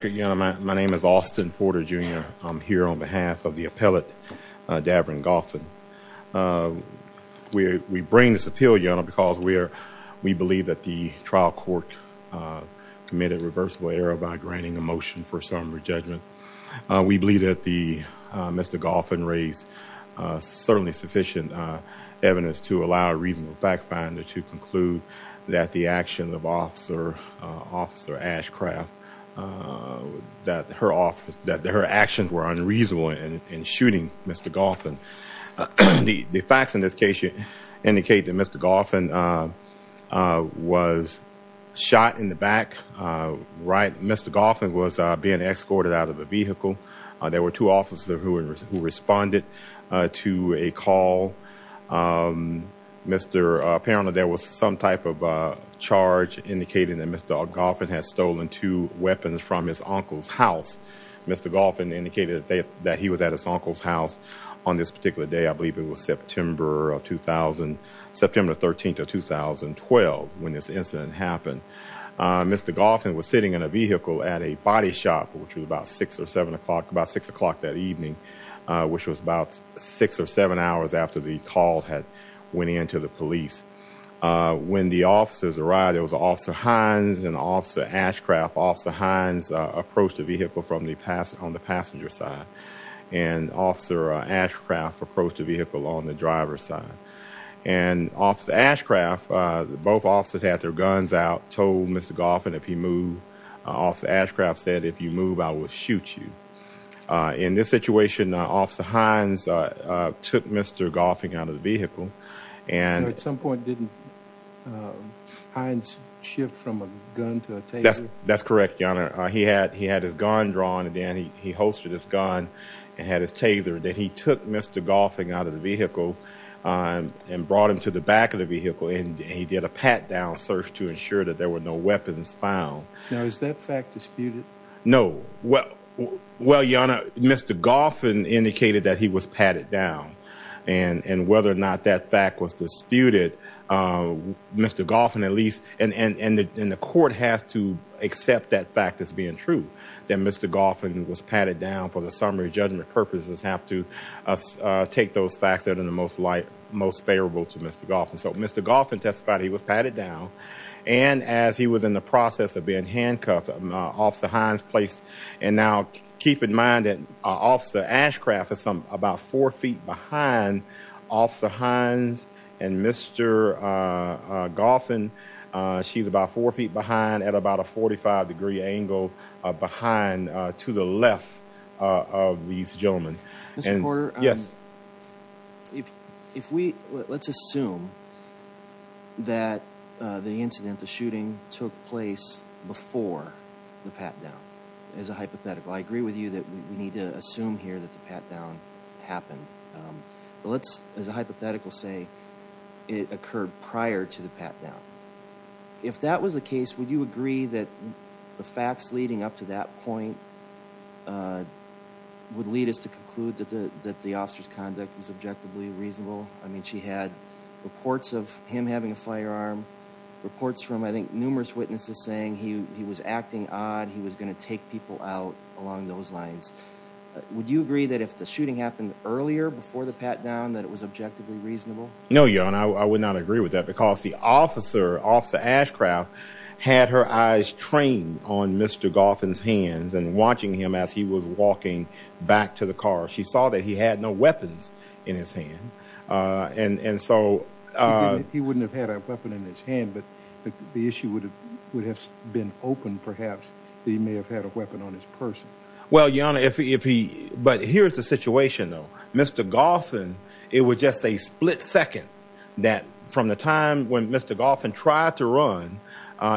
Again, my name is Austin Porter Jr. I'm here on behalf of the appellate Davdrin Goffin. We bring this appeal because we believe that the trial court committed a reversible error by granting a motion for some re-judgment. We believe that Mr. Goffin raised certainly sufficient evidence to allow a reasonable fact finder to conclude that the actions of Officer Ashcraft, that her actions were unreasonable in shooting Mr. Goffin. The facts in this case indicate that Mr. Goffin was shot in the back. Mr. Goffin was being escorted out of a vehicle. There were two officers who responded to a call. Apparently, there was some type of charge indicating that Mr. Goffin had stolen two weapons from his uncle's house. Mr. Goffin indicated that he was at his uncle's house on this particular day. I believe it was September 13, 2012 when this incident happened. Mr. Goffin was sitting in a vehicle at a body shop, which was about six or seven o'clock that the call had went in to the police. When the officers arrived, it was Officer Hines and Officer Ashcraft. Officer Hines approached the vehicle on the passenger side and Officer Ashcraft approached the vehicle on the driver's side. Officer Ashcraft, both officers had their guns out, told Mr. Goffin if he moved. Officer Ashcraft said, if you move, I will shoot you. In this situation, Officer Hines took Mr. Goffin out of the vehicle. At some point, didn't Hines shift from a gun to a taser? That's correct, Your Honor. He had his gun drawn and then he holstered his gun and had his taser. Then he took Mr. Goffin out of the vehicle and brought him to the back of the vehicle and he did a pat-down search to ensure that there were no weapons found. Now, is that fact disputed? No. Well, Your Honor, Mr. Goffin indicated that he was patted down and whether or not that fact was disputed, Mr. Goffin at least, and the court has to accept that fact as being true, that Mr. Goffin was patted down for the summary judgment purposes have to take those facts that are the most light, most favorable to Mr. Goffin. So Mr. Goffin testified he was patted down and as he was in the process of being handcuffed, Officer Hines placed, and now keep in mind that Officer Ashcraft is about four feet behind Officer Hines and Mr. Goffin. She's about four feet behind at about a 45 degree angle behind to the left of these that the incident, the shooting, took place before the pat-down as a hypothetical. I agree with you that we need to assume here that the pat-down happened, but let's, as a hypothetical, say it occurred prior to the pat-down. If that was the case, would you agree that the facts leading up to that point would lead us to conclude that the officer's conduct was objectively reasonable? I mean, she had reports of him having a firearm, reports from, I think, numerous witnesses saying he was acting odd, he was going to take people out along those lines. Would you agree that if the shooting happened earlier before the pat-down that it was objectively reasonable? No, your honor, I would not agree with that because the officer, Officer Ashcraft, had her eyes trained on Mr. Goffin's hands and watching him as he was walking back to the car. She saw that he had no weapons in his hand. He wouldn't have had a weapon in his hand, but the issue would have been open perhaps that he may have had a weapon on his purse. Well, your honor, but here's the situation though. Mr. Goffin, it was just a split second that from the time when Mr. Goffin tried to run,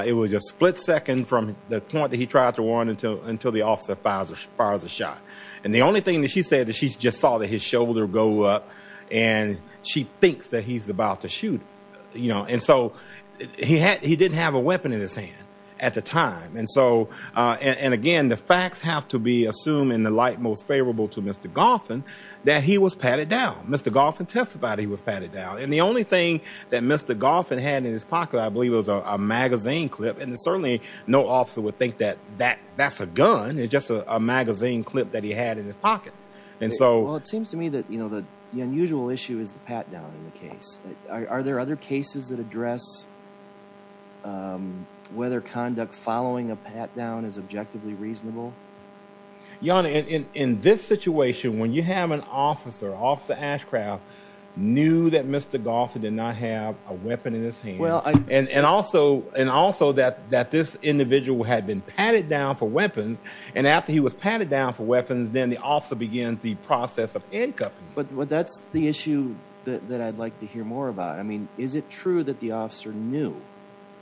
it was just a split second from the point that he tried to run until the officer fires a shot. And the only thing that she said that she just saw that his shoulder go up and she thinks that he's about to shoot, you know, and so he had, he didn't have a weapon in his hand at the time. And so, and again, the facts have to be assumed in the light, most favorable to Mr. Goffin that he was patted down. Mr. Goffin testified he was patted down. And the only thing that Mr. Goffin had in his pocket, I believe it was a magazine clip. And certainly no officer would think that that that's a gun. It's just a magazine clip that he had in his pocket. And so it seems to me that, you know, the, the unusual issue is the pat down in the case. Are there other cases that address, um, whether conduct following a pat down is objectively reasonable? Your honor, in, in, in this situation, when you have an officer, officer Ashcraft knew that Mr. Goffin did not have a weapon in his hand. And, and also, and also that, that this individual had been patted down for weapons. And after he was patted down for weapons, then the officer began the process of incoming. But that's the issue that I'd like to hear more about. I mean, is it true that the officer knew,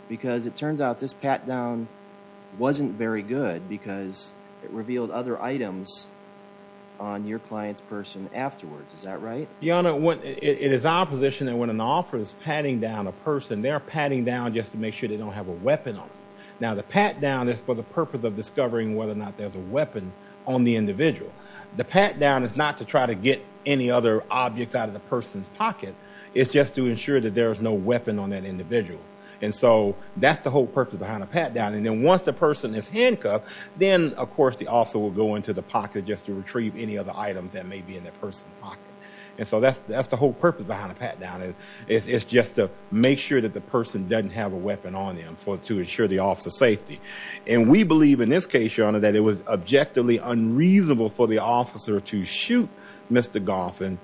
because it turns out this pat down wasn't very good because it revealed other items on your client's person afterwards. Is that right? Your honor, it is our position that when an officer is patting down a person, they're patting down just to make sure they don't have a weapon on them. Now, the pat down is for the purpose of discovering whether or not there's a weapon on the individual. The pat down is not to try to get any other objects out of the person's pocket. It's just to ensure that there is no weapon on that individual. And so that's the whole purpose behind a pat down. And then once the person is handcuffed, then of course, the officer will go into the pocket just to retrieve any other items that may be in that person's pocket. And so that's the whole purpose behind a pat down. It's just to make sure that the person doesn't have a weapon on them to ensure the officer's safety. And we believe in this case, your honor, that it was objectively unreasonable for the officer to shoot Mr. Goffin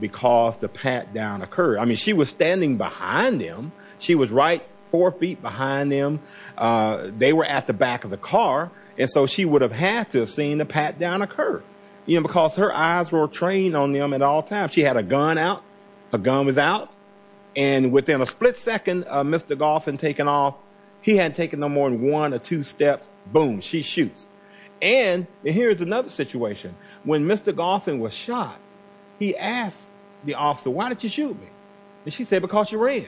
because the pat down occurred. I mean, she was standing behind them. She was right four feet behind them. They were at the back of the car. And so she would have had to have seen the pat down occur, because her eyes were trained on them at all times. She had a gun out. Her gun was out. And within a split second of Mr. Goffin taking off, he hadn't taken no more than one or two steps. Boom, she shoots. And here's another situation. When Mr. Goffin was shot, he asked the officer, why did you shoot me? And she said, because you ran.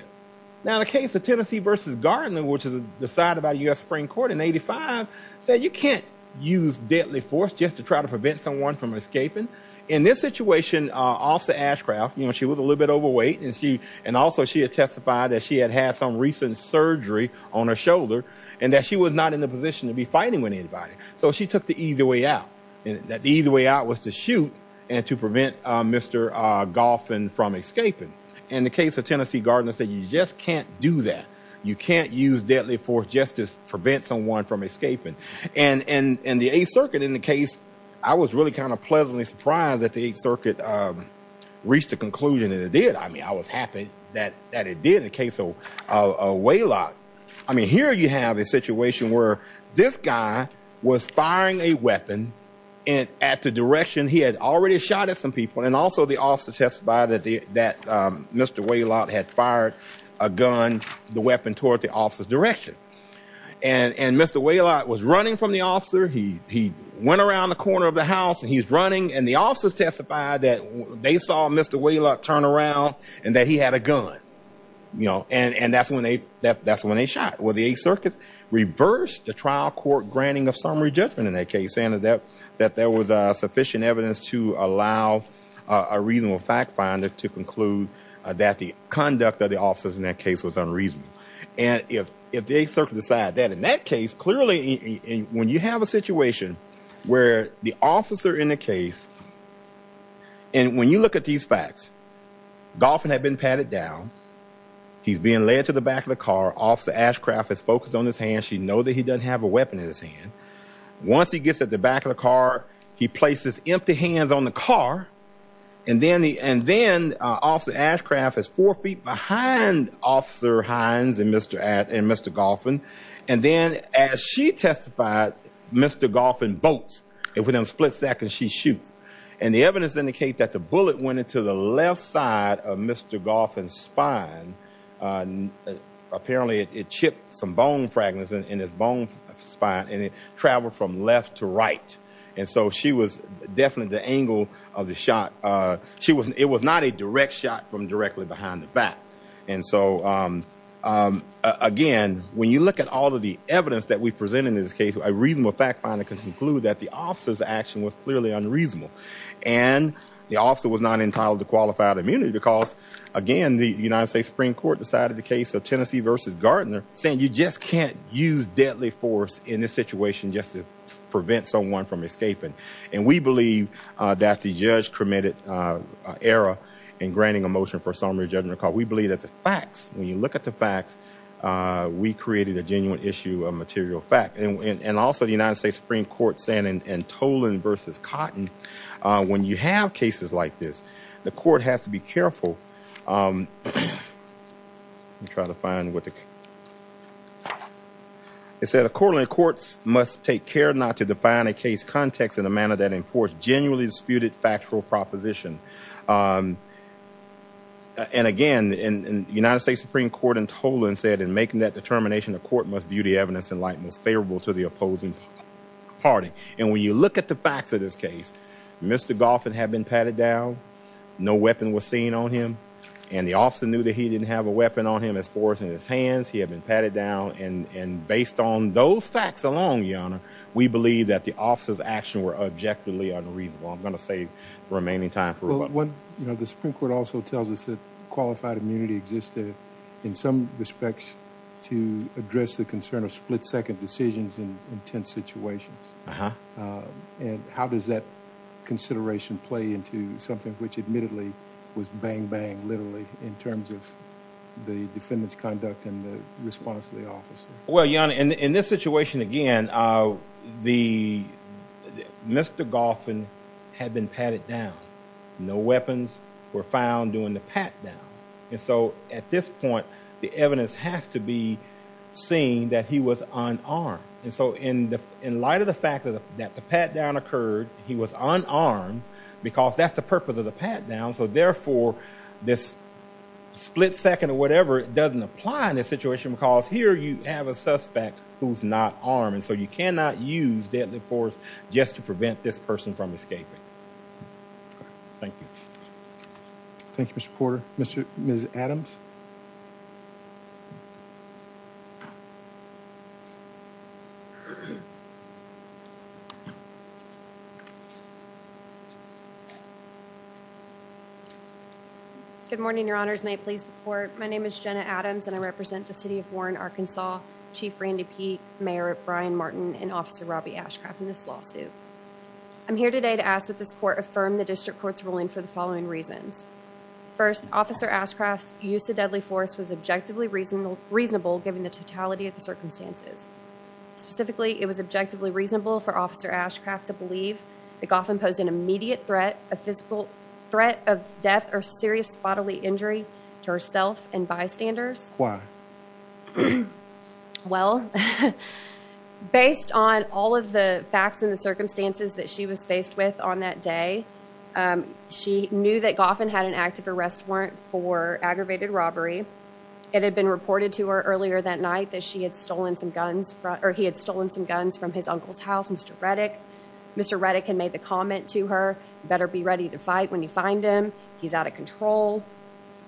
Now, the case of Tennessee versus Gardner, which is decided by U.S. Supreme Court in 85, said you can't use deadly force just to try to prevent someone from escaping. In this situation, Officer Ashcraft, you know, she was a little bit overweight. And she and also she had testified that she had had some recent surgery on her shoulder and that she was not in the position to be fighting with anybody. So she took the easy way out, that the easy way out was to shoot and to prevent Mr. Goffin from escaping. In the case of Tennessee, Gardner said you just can't do that. You can't use deadly force just to prevent someone from escaping. And in the 8th Circuit, in the case, I was really kind of pleasantly surprised that the 8th Circuit reached a conclusion and it did. I mean, I was happy that it did in the case of Whalott. I mean, here you have a situation where this guy was firing a weapon at the direction he had already shot at some people. And also the officer testified that Mr. Whalott had fired a gun, the weapon toward the officer's direction. And Mr. Whalott was running from the officer. He went around the corner of the house and he's running. And the officers testified that they saw Mr. Whalott turn around and that he had a gun, you know. And that's when they shot. Well, the 8th Circuit reversed the trial court granting of summary judgment in that case, saying that there was sufficient evidence to allow a reasonable fact finder to conclude that the conduct of the officers in that case was unreasonable. And if the 8th Circuit decided that, in that case, clearly, when you have a situation where the officer in the case, and when you look at these facts, Goffin had been patted down. He's being led to the back of the car. Officer Ashcraft is focused on his hand. She knows that he doesn't have a weapon in his hand. Once he gets at the back of the car, he places empty hands on the car. And then, Officer Ashcraft is four feet behind Officer Hines and Mr. Goffin. And then, as she testified, Mr. Goffin bolts. And within a split second, she shoots. And the evidence indicates that the bullet went into the left side of Mr. Goffin's spine. Apparently, it chipped some bone fragments in his bone spine and it traveled from left to right. And so, she was definitely the angle of the shot. It was not a direct shot from directly behind the back. And so, again, when you look at all of the evidence that we present in this case, a reasonable fact finder can conclude that the officer's action was clearly unreasonable. And the officer was not entitled to qualified immunity because, again, the United States Supreme Court decided the case of Tennessee versus Gardner, saying you just can't use deadly force in this situation just to adapt the judge-committed error in granting a motion for a summary judgment. We believe that the facts, when you look at the facts, we created a genuine issue of material fact. And also, the United States Supreme Court saying in Tolan versus Cotton, when you have cases like this, the court has to be careful. Let me try to find what the... It said, a court and courts must take care not to define a case context in a manner that genuinely disputed factual proposition. And again, the United States Supreme Court in Tolan said, in making that determination, the court must view the evidence in light most favorable to the opposing party. And when you look at the facts of this case, Mr. Goffin had been patted down, no weapon was seen on him, and the officer knew that he didn't have a weapon on him, as far as in his hands, he had been patted down. And based on those facts alone, Your Honor, we believe that the officer's action were objectively unreasonable. I'm going to say remaining time for... Well, the Supreme Court also tells us that qualified immunity existed in some respects to address the concern of split-second decisions in intense situations. And how does that consideration play into something which admittedly was bang-bang, literally, in terms of the defendant's conduct and the response of the officer? Well, Your Honor, in this situation, again, Mr. Goffin had been patted down, no weapons were found during the pat-down. And so at this point, the evidence has to be seen that he was unarmed. And so in light of the fact that the pat-down occurred, he was unarmed, because that's the purpose of the pat-down. So therefore, this split-second or whatever, doesn't apply in this situation, because here you have a suspect who's not armed, and so you cannot use deadly force just to prevent this person from escaping. Thank you. Thank you, Mr. Porter. Ms. Adams? Good morning, Your Honors. May it please the Court. My name is Jenna Adams, and I represent the City of Warren, Arkansas, Chief Randy Peek, Mayor Brian Martin, and Officer Robby Ashcraft in this lawsuit. I'm here today to ask that this Court affirm the District Court's ruling for the following reasons. First, Officer Ashcraft's use of deadly force in this case was objectively reasonable given the totality of the circumstances. Specifically, it was objectively reasonable for Officer Ashcraft to believe that Goffin posed an immediate threat, a physical threat of death or serious bodily injury to herself and bystanders. Why? Well, based on all of the facts and the circumstances that she was faced with on that day, she knew that Goffin had an active arrest warrant for aggravated robbery. It had been reported to her earlier that night that he had stolen some guns from his uncle's house, Mr. Reddick. Mr. Reddick had made the comment to her, you better be ready to fight when you find him. He's out of control.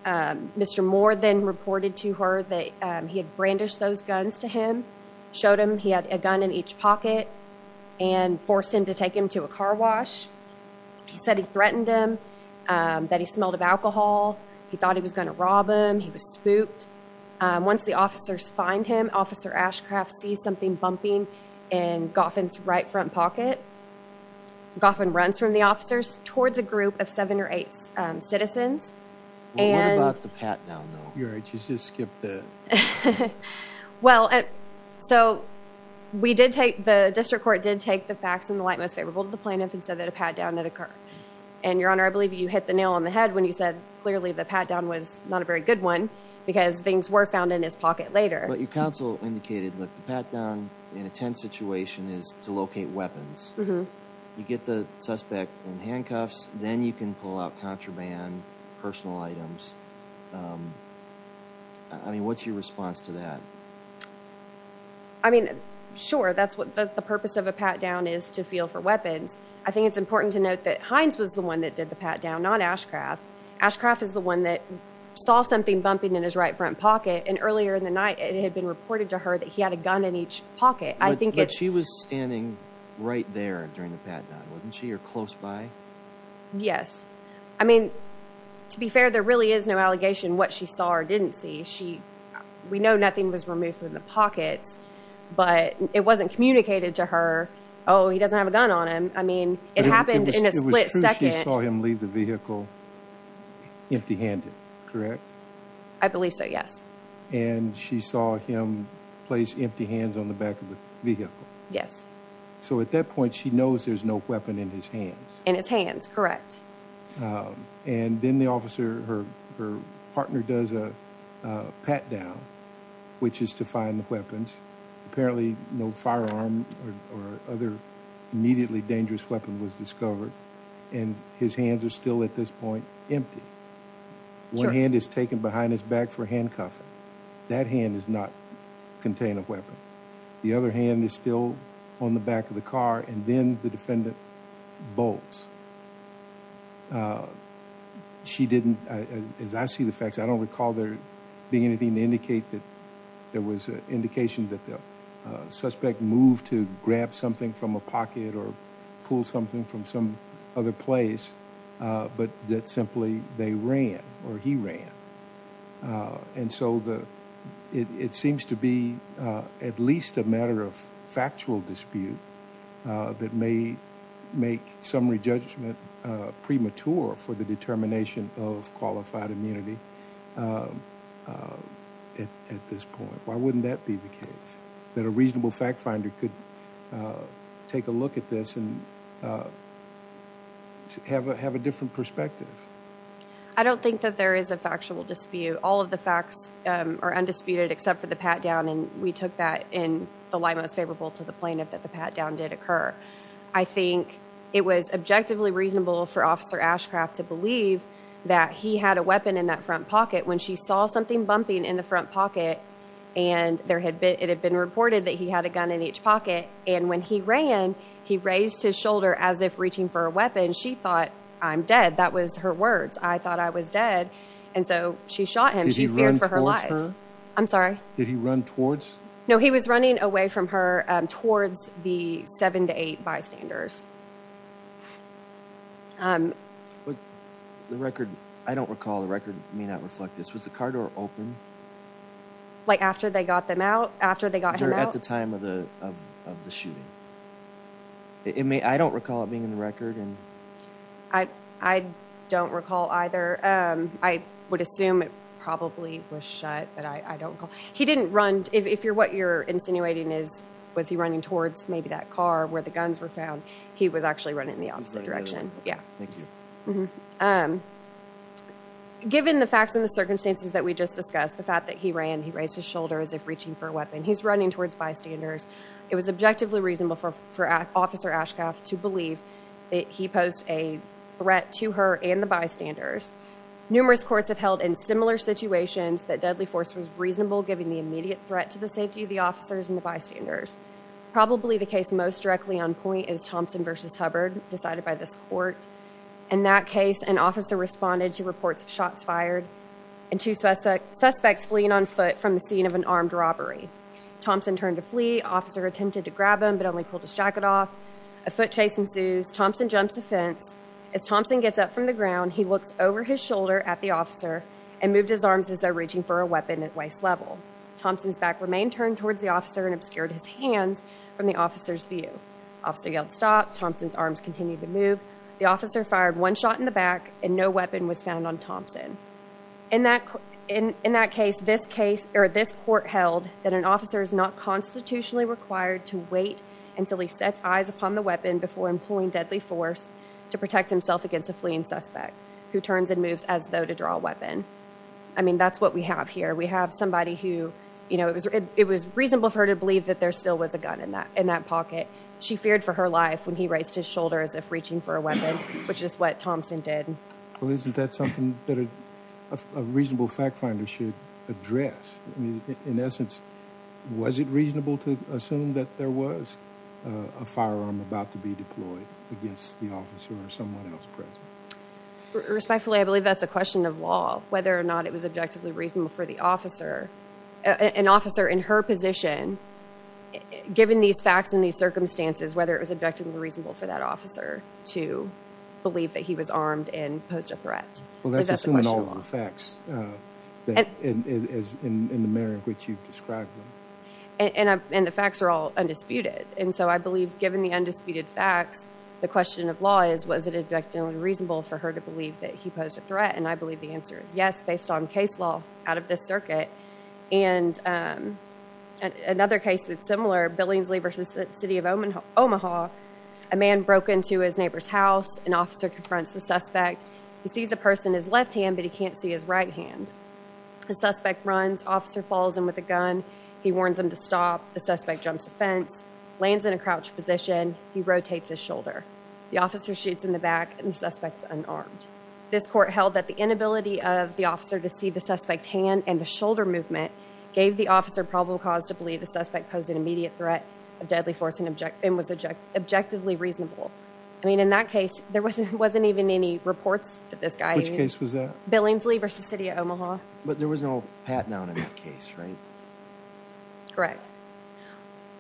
Mr. Moore then reported to her that he had brandished those guns to him, showed him he had a gun in each pocket and forced him to take him to a car wash. He said he threatened him, that he smelled of alcohol. He thought he was going to rob him. He was spooked. Once the officers find him, Officer Ashcraft sees something bumping in Goffin's right front pocket. Goffin runs from the officers towards a group of seven or eight citizens. What about the pat down though? You just skipped that. Well, so we did take, the district court did take the facts in the light most favorable to the plaintiff and said that a pat down had occurred. And your honor, I believe you hit the nail on the head when you said clearly the pat down was not a very good one because things were found in his pocket later. But your counsel indicated that the pat down in a tense situation is to locate weapons. You get the suspect in handcuffs, then you can pull out contraband, personal items. I mean, what's your response to that? I mean, sure. That's what the purpose of a pat down is to feel for weapons. I think it's important to note that Hines was the one that did the pat down, not Ashcraft. Ashcraft is the one that saw something bumping in his right front pocket. And earlier in the night, it had been reported to he had a gun in each pocket. But she was standing right there during the pat down, wasn't she? Or close by? Yes. I mean, to be fair, there really is no allegation what she saw or didn't see. We know nothing was removed from the pockets, but it wasn't communicated to her, oh, he doesn't have a gun on him. I mean, it happened in a split second. It was true she saw him leave the vehicle empty handed, correct? I believe so, yes. And she saw him place empty hands on the back of the vehicle. Yes. So at that point, she knows there's no weapon in his hands. In his hands, correct. And then the officer, her partner does a pat down, which is to find the weapons. Apparently, no firearm or other immediately dangerous weapon was discovered. And his hands are still at this point, empty. One hand is taken behind his back for handcuffing. That hand does not contain a weapon. The other hand is still on the back of the car. And then the defendant bolts. She didn't, as I see the facts, I don't recall there being anything to indicate that there was an indication that the suspect moved to grab something from a pocket or pull something from some other place, but that simply they ran or he ran. And so it seems to be at least a matter of factual dispute that may make summary judgment premature for the determination of qualified immunity at this point. Why wouldn't that be the case that a reasonable fact finder could take a look at this and have a different perspective? I don't think that there is a factual dispute. All of the facts are undisputed except for the pat down. And we took that in the light most favorable to the plaintiff that the pat down did occur. I think it was objectively reasonable for officer Ashcraft to believe that he had a weapon in that front pocket when she saw something bumping in the front pocket and there had been, it had been reported that he had a gun in each pocket. And when he ran, he raised his shoulder as if reaching for a weapon. She thought I'm dead. That was her words. I thought I was dead. And so she shot him. She feared for her life. I'm sorry. Did he run towards? No, he was running away from her towards the seven to eight bystanders. The record, I don't recall the record may not reflect this. Was the car door open? Like after they got them out after they got him out at the time of the, of the shooting, it may, I don't recall it being in the record. And I, I don't recall either. Um, I would assume it probably was shut, but I, I don't call, he didn't run. If you're what you're insinuating is, was he running towards maybe that car where the guns were found? He was actually running in the opposite direction. Yeah. Thank you. Um, given the facts and the circumstances that we just discussed, the fact that he ran, he raised his shoulder as if reaching for a weapon. He's running towards bystanders. It was objectively reasonable for, for officer Ashcraft to believe that he posed a threat to her and the bystanders. Numerous courts have held in similar situations that deadly force was reasonable, giving the immediate threat to the safety of the officers and the bystanders. Probably the case most directly on point is Thompson versus Hubbard decided by this court. In that case, an officer responded to reports of shots fired and two suspects fleeing on foot from the scene of an armed robbery. Thompson turned to flee. Officer attempted to grab him, but only pulled his jacket off. A foot chase ensues. Thompson jumps the fence. As Thompson gets up from the ground, he looks over his shoulder at the officer and moved his arms as though reaching for a weapon at waist level. Thompson's back remained turned towards the officer and obscured his hands from the officer's view. Officer yelled stop. Thompson's continued to move. The officer fired one shot in the back and no weapon was found on Thompson. In that, in that case, this case, or this court held that an officer is not constitutionally required to wait until he sets eyes upon the weapon before employing deadly force to protect himself against a fleeing suspect who turns and moves as though to draw a weapon. I mean, that's what we have here. We have somebody who, you know, it was, it was reasonable for her to believe that there still was a gun in that, in that pocket. She feared for her life when he raised his shoulder as if reaching for a weapon, which is what Thompson did. Well, isn't that something that a reasonable fact finder should address? I mean, in essence, was it reasonable to assume that there was a firearm about to be deployed against the officer or someone else present? Respectfully, I believe that's a question of law, whether or not it was objectively reasonable for the officer, an officer in her position, given these facts and these circumstances, whether it was objectively reasonable for that officer to believe that he was armed and posed a threat. Well, that's assuming all of the facts in the manner in which you've described them. And the facts are all undisputed. And so I believe given the undisputed facts, the question of law is, was it objectively reasonable for her to believe that he posed a threat? And I believe the answer is yes, based on case law out of this circuit. And another case that's similar, Billingsley versus the city of Omaha. A man broke into his neighbor's house. An officer confronts the suspect. He sees a person in his left hand, but he can't see his right hand. The suspect runs. Officer falls in with a gun. He warns him to stop. The suspect jumps the fence, lands in a crouched position. He rotates his shoulder. The officer shoots in the back and the suspect's unarmed. This court held that the inability of the officer to see the suspect's hand and the shoulder movement gave the officer probable cause to believe the suspect posed an immediate threat of deadly force and was objectively reasonable. I mean, in that case, there wasn't even any reports that this guy... Which case was that? Billingsley versus the city of Omaha. But there was no pat-down in that case, right? Correct.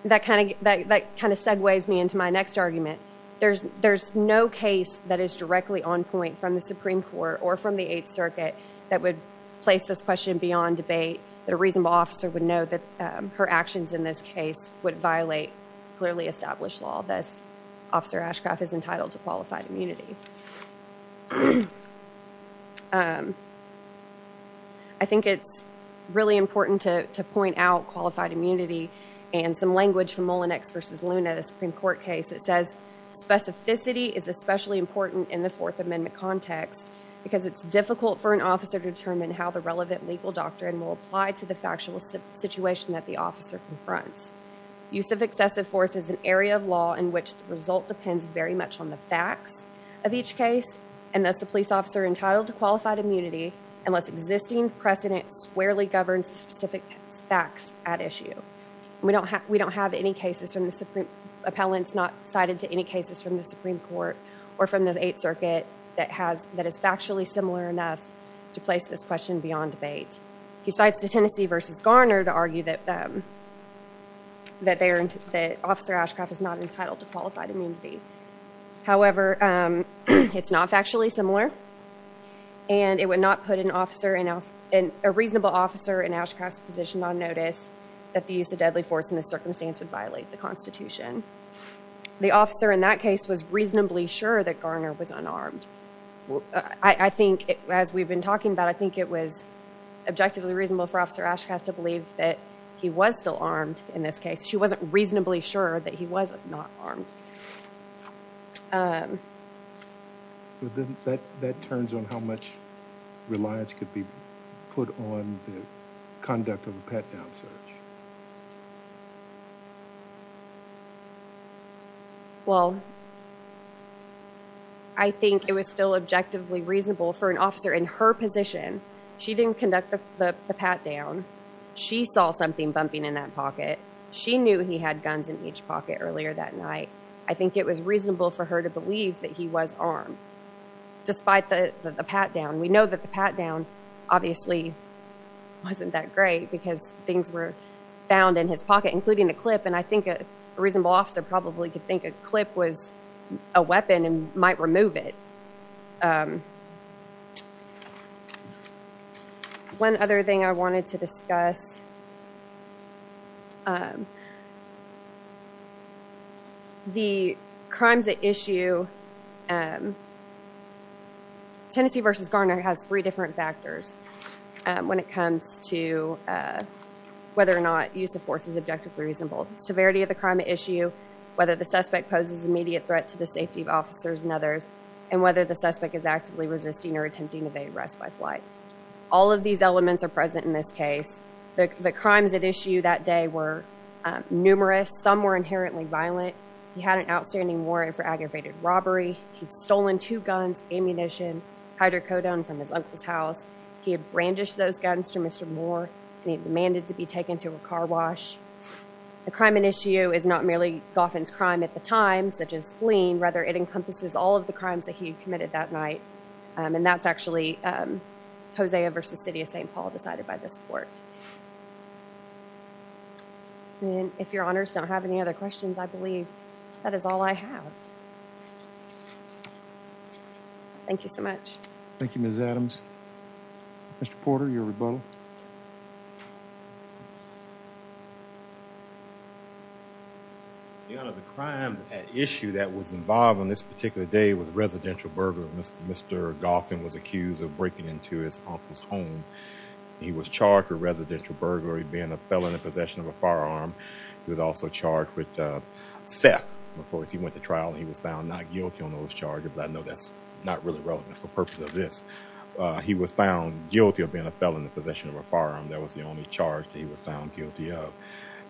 That kind of segues me into my next argument. There's no case that is directly on debate that a reasonable officer would know that her actions in this case would violate clearly established law. Thus, Officer Ashcroft is entitled to qualified immunity. I think it's really important to point out qualified immunity and some language from Mullinex versus Luna, the Supreme Court case, that says specificity is especially important in the Fourth Amendment context because it's difficult for an officer to determine how the relevant legal doctrine will apply to the factual situation that the officer confronts. Use of excessive force is an area of law in which the result depends very much on the facts of each case and thus the police officer entitled to qualified immunity unless existing precedent squarely governs the specific facts at issue. We don't have any cases from the Supreme... that is factually similar enough to place this question beyond debate. He cites the Tennessee versus Garner to argue that Officer Ashcroft is not entitled to qualified immunity. However, it's not factually similar and it would not put a reasonable officer in Ashcroft's position on notice that the use of deadly force in this circumstance would violate the Constitution. The officer in that case was reasonably sure that Garner was unarmed. I think, as we've been talking about, I think it was objectively reasonable for Officer Ashcroft to believe that he was still armed in this case. She wasn't reasonably sure that he was not armed. That turns on how much reliance could be put on the conduct of a pat-down search. Well, I think it was still objectively reasonable for an officer in her position. She didn't conduct the pat-down. She saw something bumping in that pocket. She knew he had guns in each pocket earlier that night. I think it was reasonable for her to believe that he was armed despite the pat-down. We know that the pat-down obviously wasn't that great because things were found in his pocket, including the clip, and I think a reasonable officer probably could think a clip was a weapon and might remove it. One other thing I wanted to discuss, the crimes at issue. Tennessee v. Garner has three different factors when it comes to whether or not use of force is objectively reasonable. Severity of the crime at issue, whether the suspect poses immediate threat to the safety of officers and others, and whether the suspect is actively resisting or attempting to evade arrest by flight. All of these elements are present in this case. The crimes at issue that day were numerous. Some were inherently violent. He had an outstanding warrant for aggravated robbery. He'd stolen two brandished those guns to Mr. Moore, and he demanded to be taken to a car wash. The crime at issue is not merely Goffin's crime at the time, such as fleeing. Rather, it encompasses all of the crimes that he committed that night, and that's actually Hosea v. City of St. Paul decided by this court. If your honors don't have any other questions, I believe that is all I have. Thank you so much. Thank you, Ms. Adams. Mr. Porter, your rebuttal. Your honor, the crime at issue that was involved on this particular day was residential burglary. Mr. Goffin was accused of breaking into his uncle's home. He was charged with residential burglary, being a felon in possession of a firearm. He was also charged with theft. Of course, he went to trial and he was found not guilty on those charges, but I know that's not really relevant for the purpose of this. He was found guilty of being a felon in possession of a firearm. That was the only charge that he was found guilty of.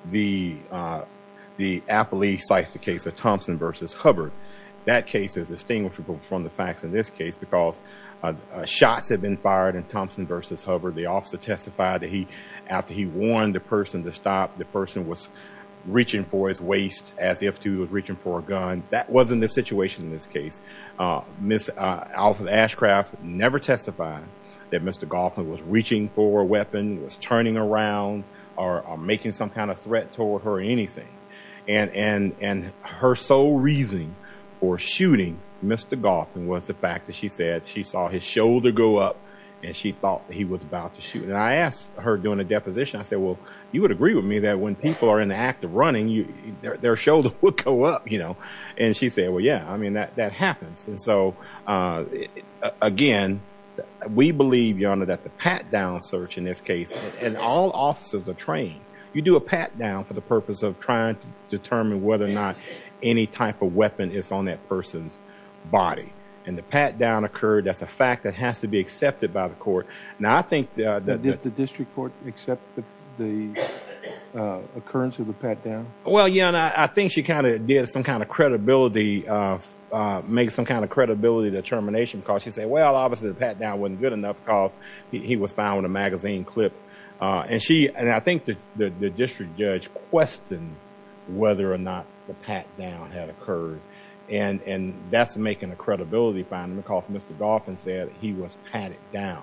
The appellee cites the case of Thompson v. Hubbard. That case is distinguishable from the facts in this case because shots had been fired in Thompson v. Hubbard. The officer testified that after he warned the person to stop, the person was reaching for his waist as if he was reaching for a gun. That wasn't the officer. Ashcraft never testified that Mr. Goffin was reaching for a weapon, was turning around, or making some kind of threat toward her or anything. Her sole reasoning for shooting Mr. Goffin was the fact that she said she saw his shoulder go up and she thought that he was about to shoot. I asked her during the deposition, I said, well, you would agree with me that when people are in the act of running, their shoulder would go up. She said, well, yeah, I mean, that happens. And so, again, we believe, Your Honor, that the pat-down search in this case, and all officers are trained, you do a pat-down for the purpose of trying to determine whether or not any type of weapon is on that person's body. And the pat-down occurred, that's a fact that has to be accepted by the court. Now, I think that... Did the district court accept the occurrence of the pat-down? Well, Your Honor, I think she kind of did some kind of credibility determination because she said, well, obviously the pat-down wasn't good enough because he was found on a magazine clip. And I think the district judge questioned whether or not the pat-down had occurred. And that's making a credibility finding because Mr. Goffin said he was patted down.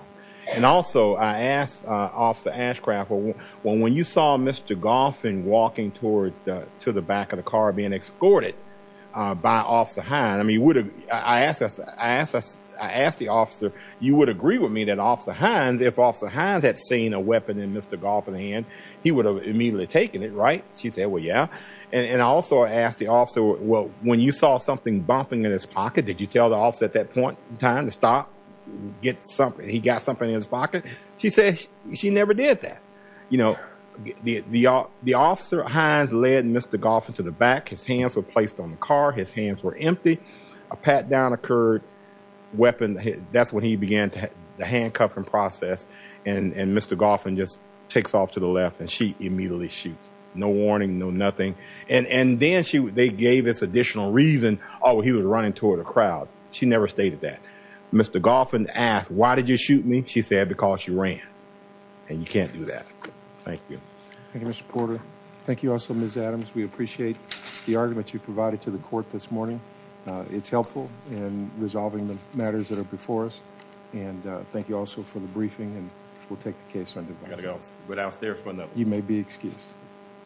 And also, I asked Officer Ashcraft, well, when you saw Mr. Goffin walking to the back of the car being escorted by Officer Hines, I mean, I asked the officer, you would agree with me that Officer Hines, if Officer Hines had seen a weapon in Mr. Goffin's hand, he would have immediately taken it, right? She said, well, yeah. And I also asked the officer, well, when you saw something bumping in his pocket, did you tell the officer at that point time to stop, get something, he got something in his pocket? She said she never did that. You know, the officer Hines led Mr. Goffin to the back, his hands were placed on the car, his hands were empty, a pat-down occurred, weapon hit, that's when he began the handcuffing process. And Mr. Goffin just takes off to the left and she immediately shoots, no warning, no nothing. And then they gave us additional reason, oh, he was running toward a crowd. She never stated that. Mr. Goffin asked, why did you shoot me? She said, because you ran and you can't do that. Thank you. Thank you, Mr. Porter. Thank you also, Ms. Adams. We appreciate the argument you provided to the court this morning. It's helpful in resolving the matters that are before us. And thank you also for the briefing and we'll take the case on divorce. You may be excused.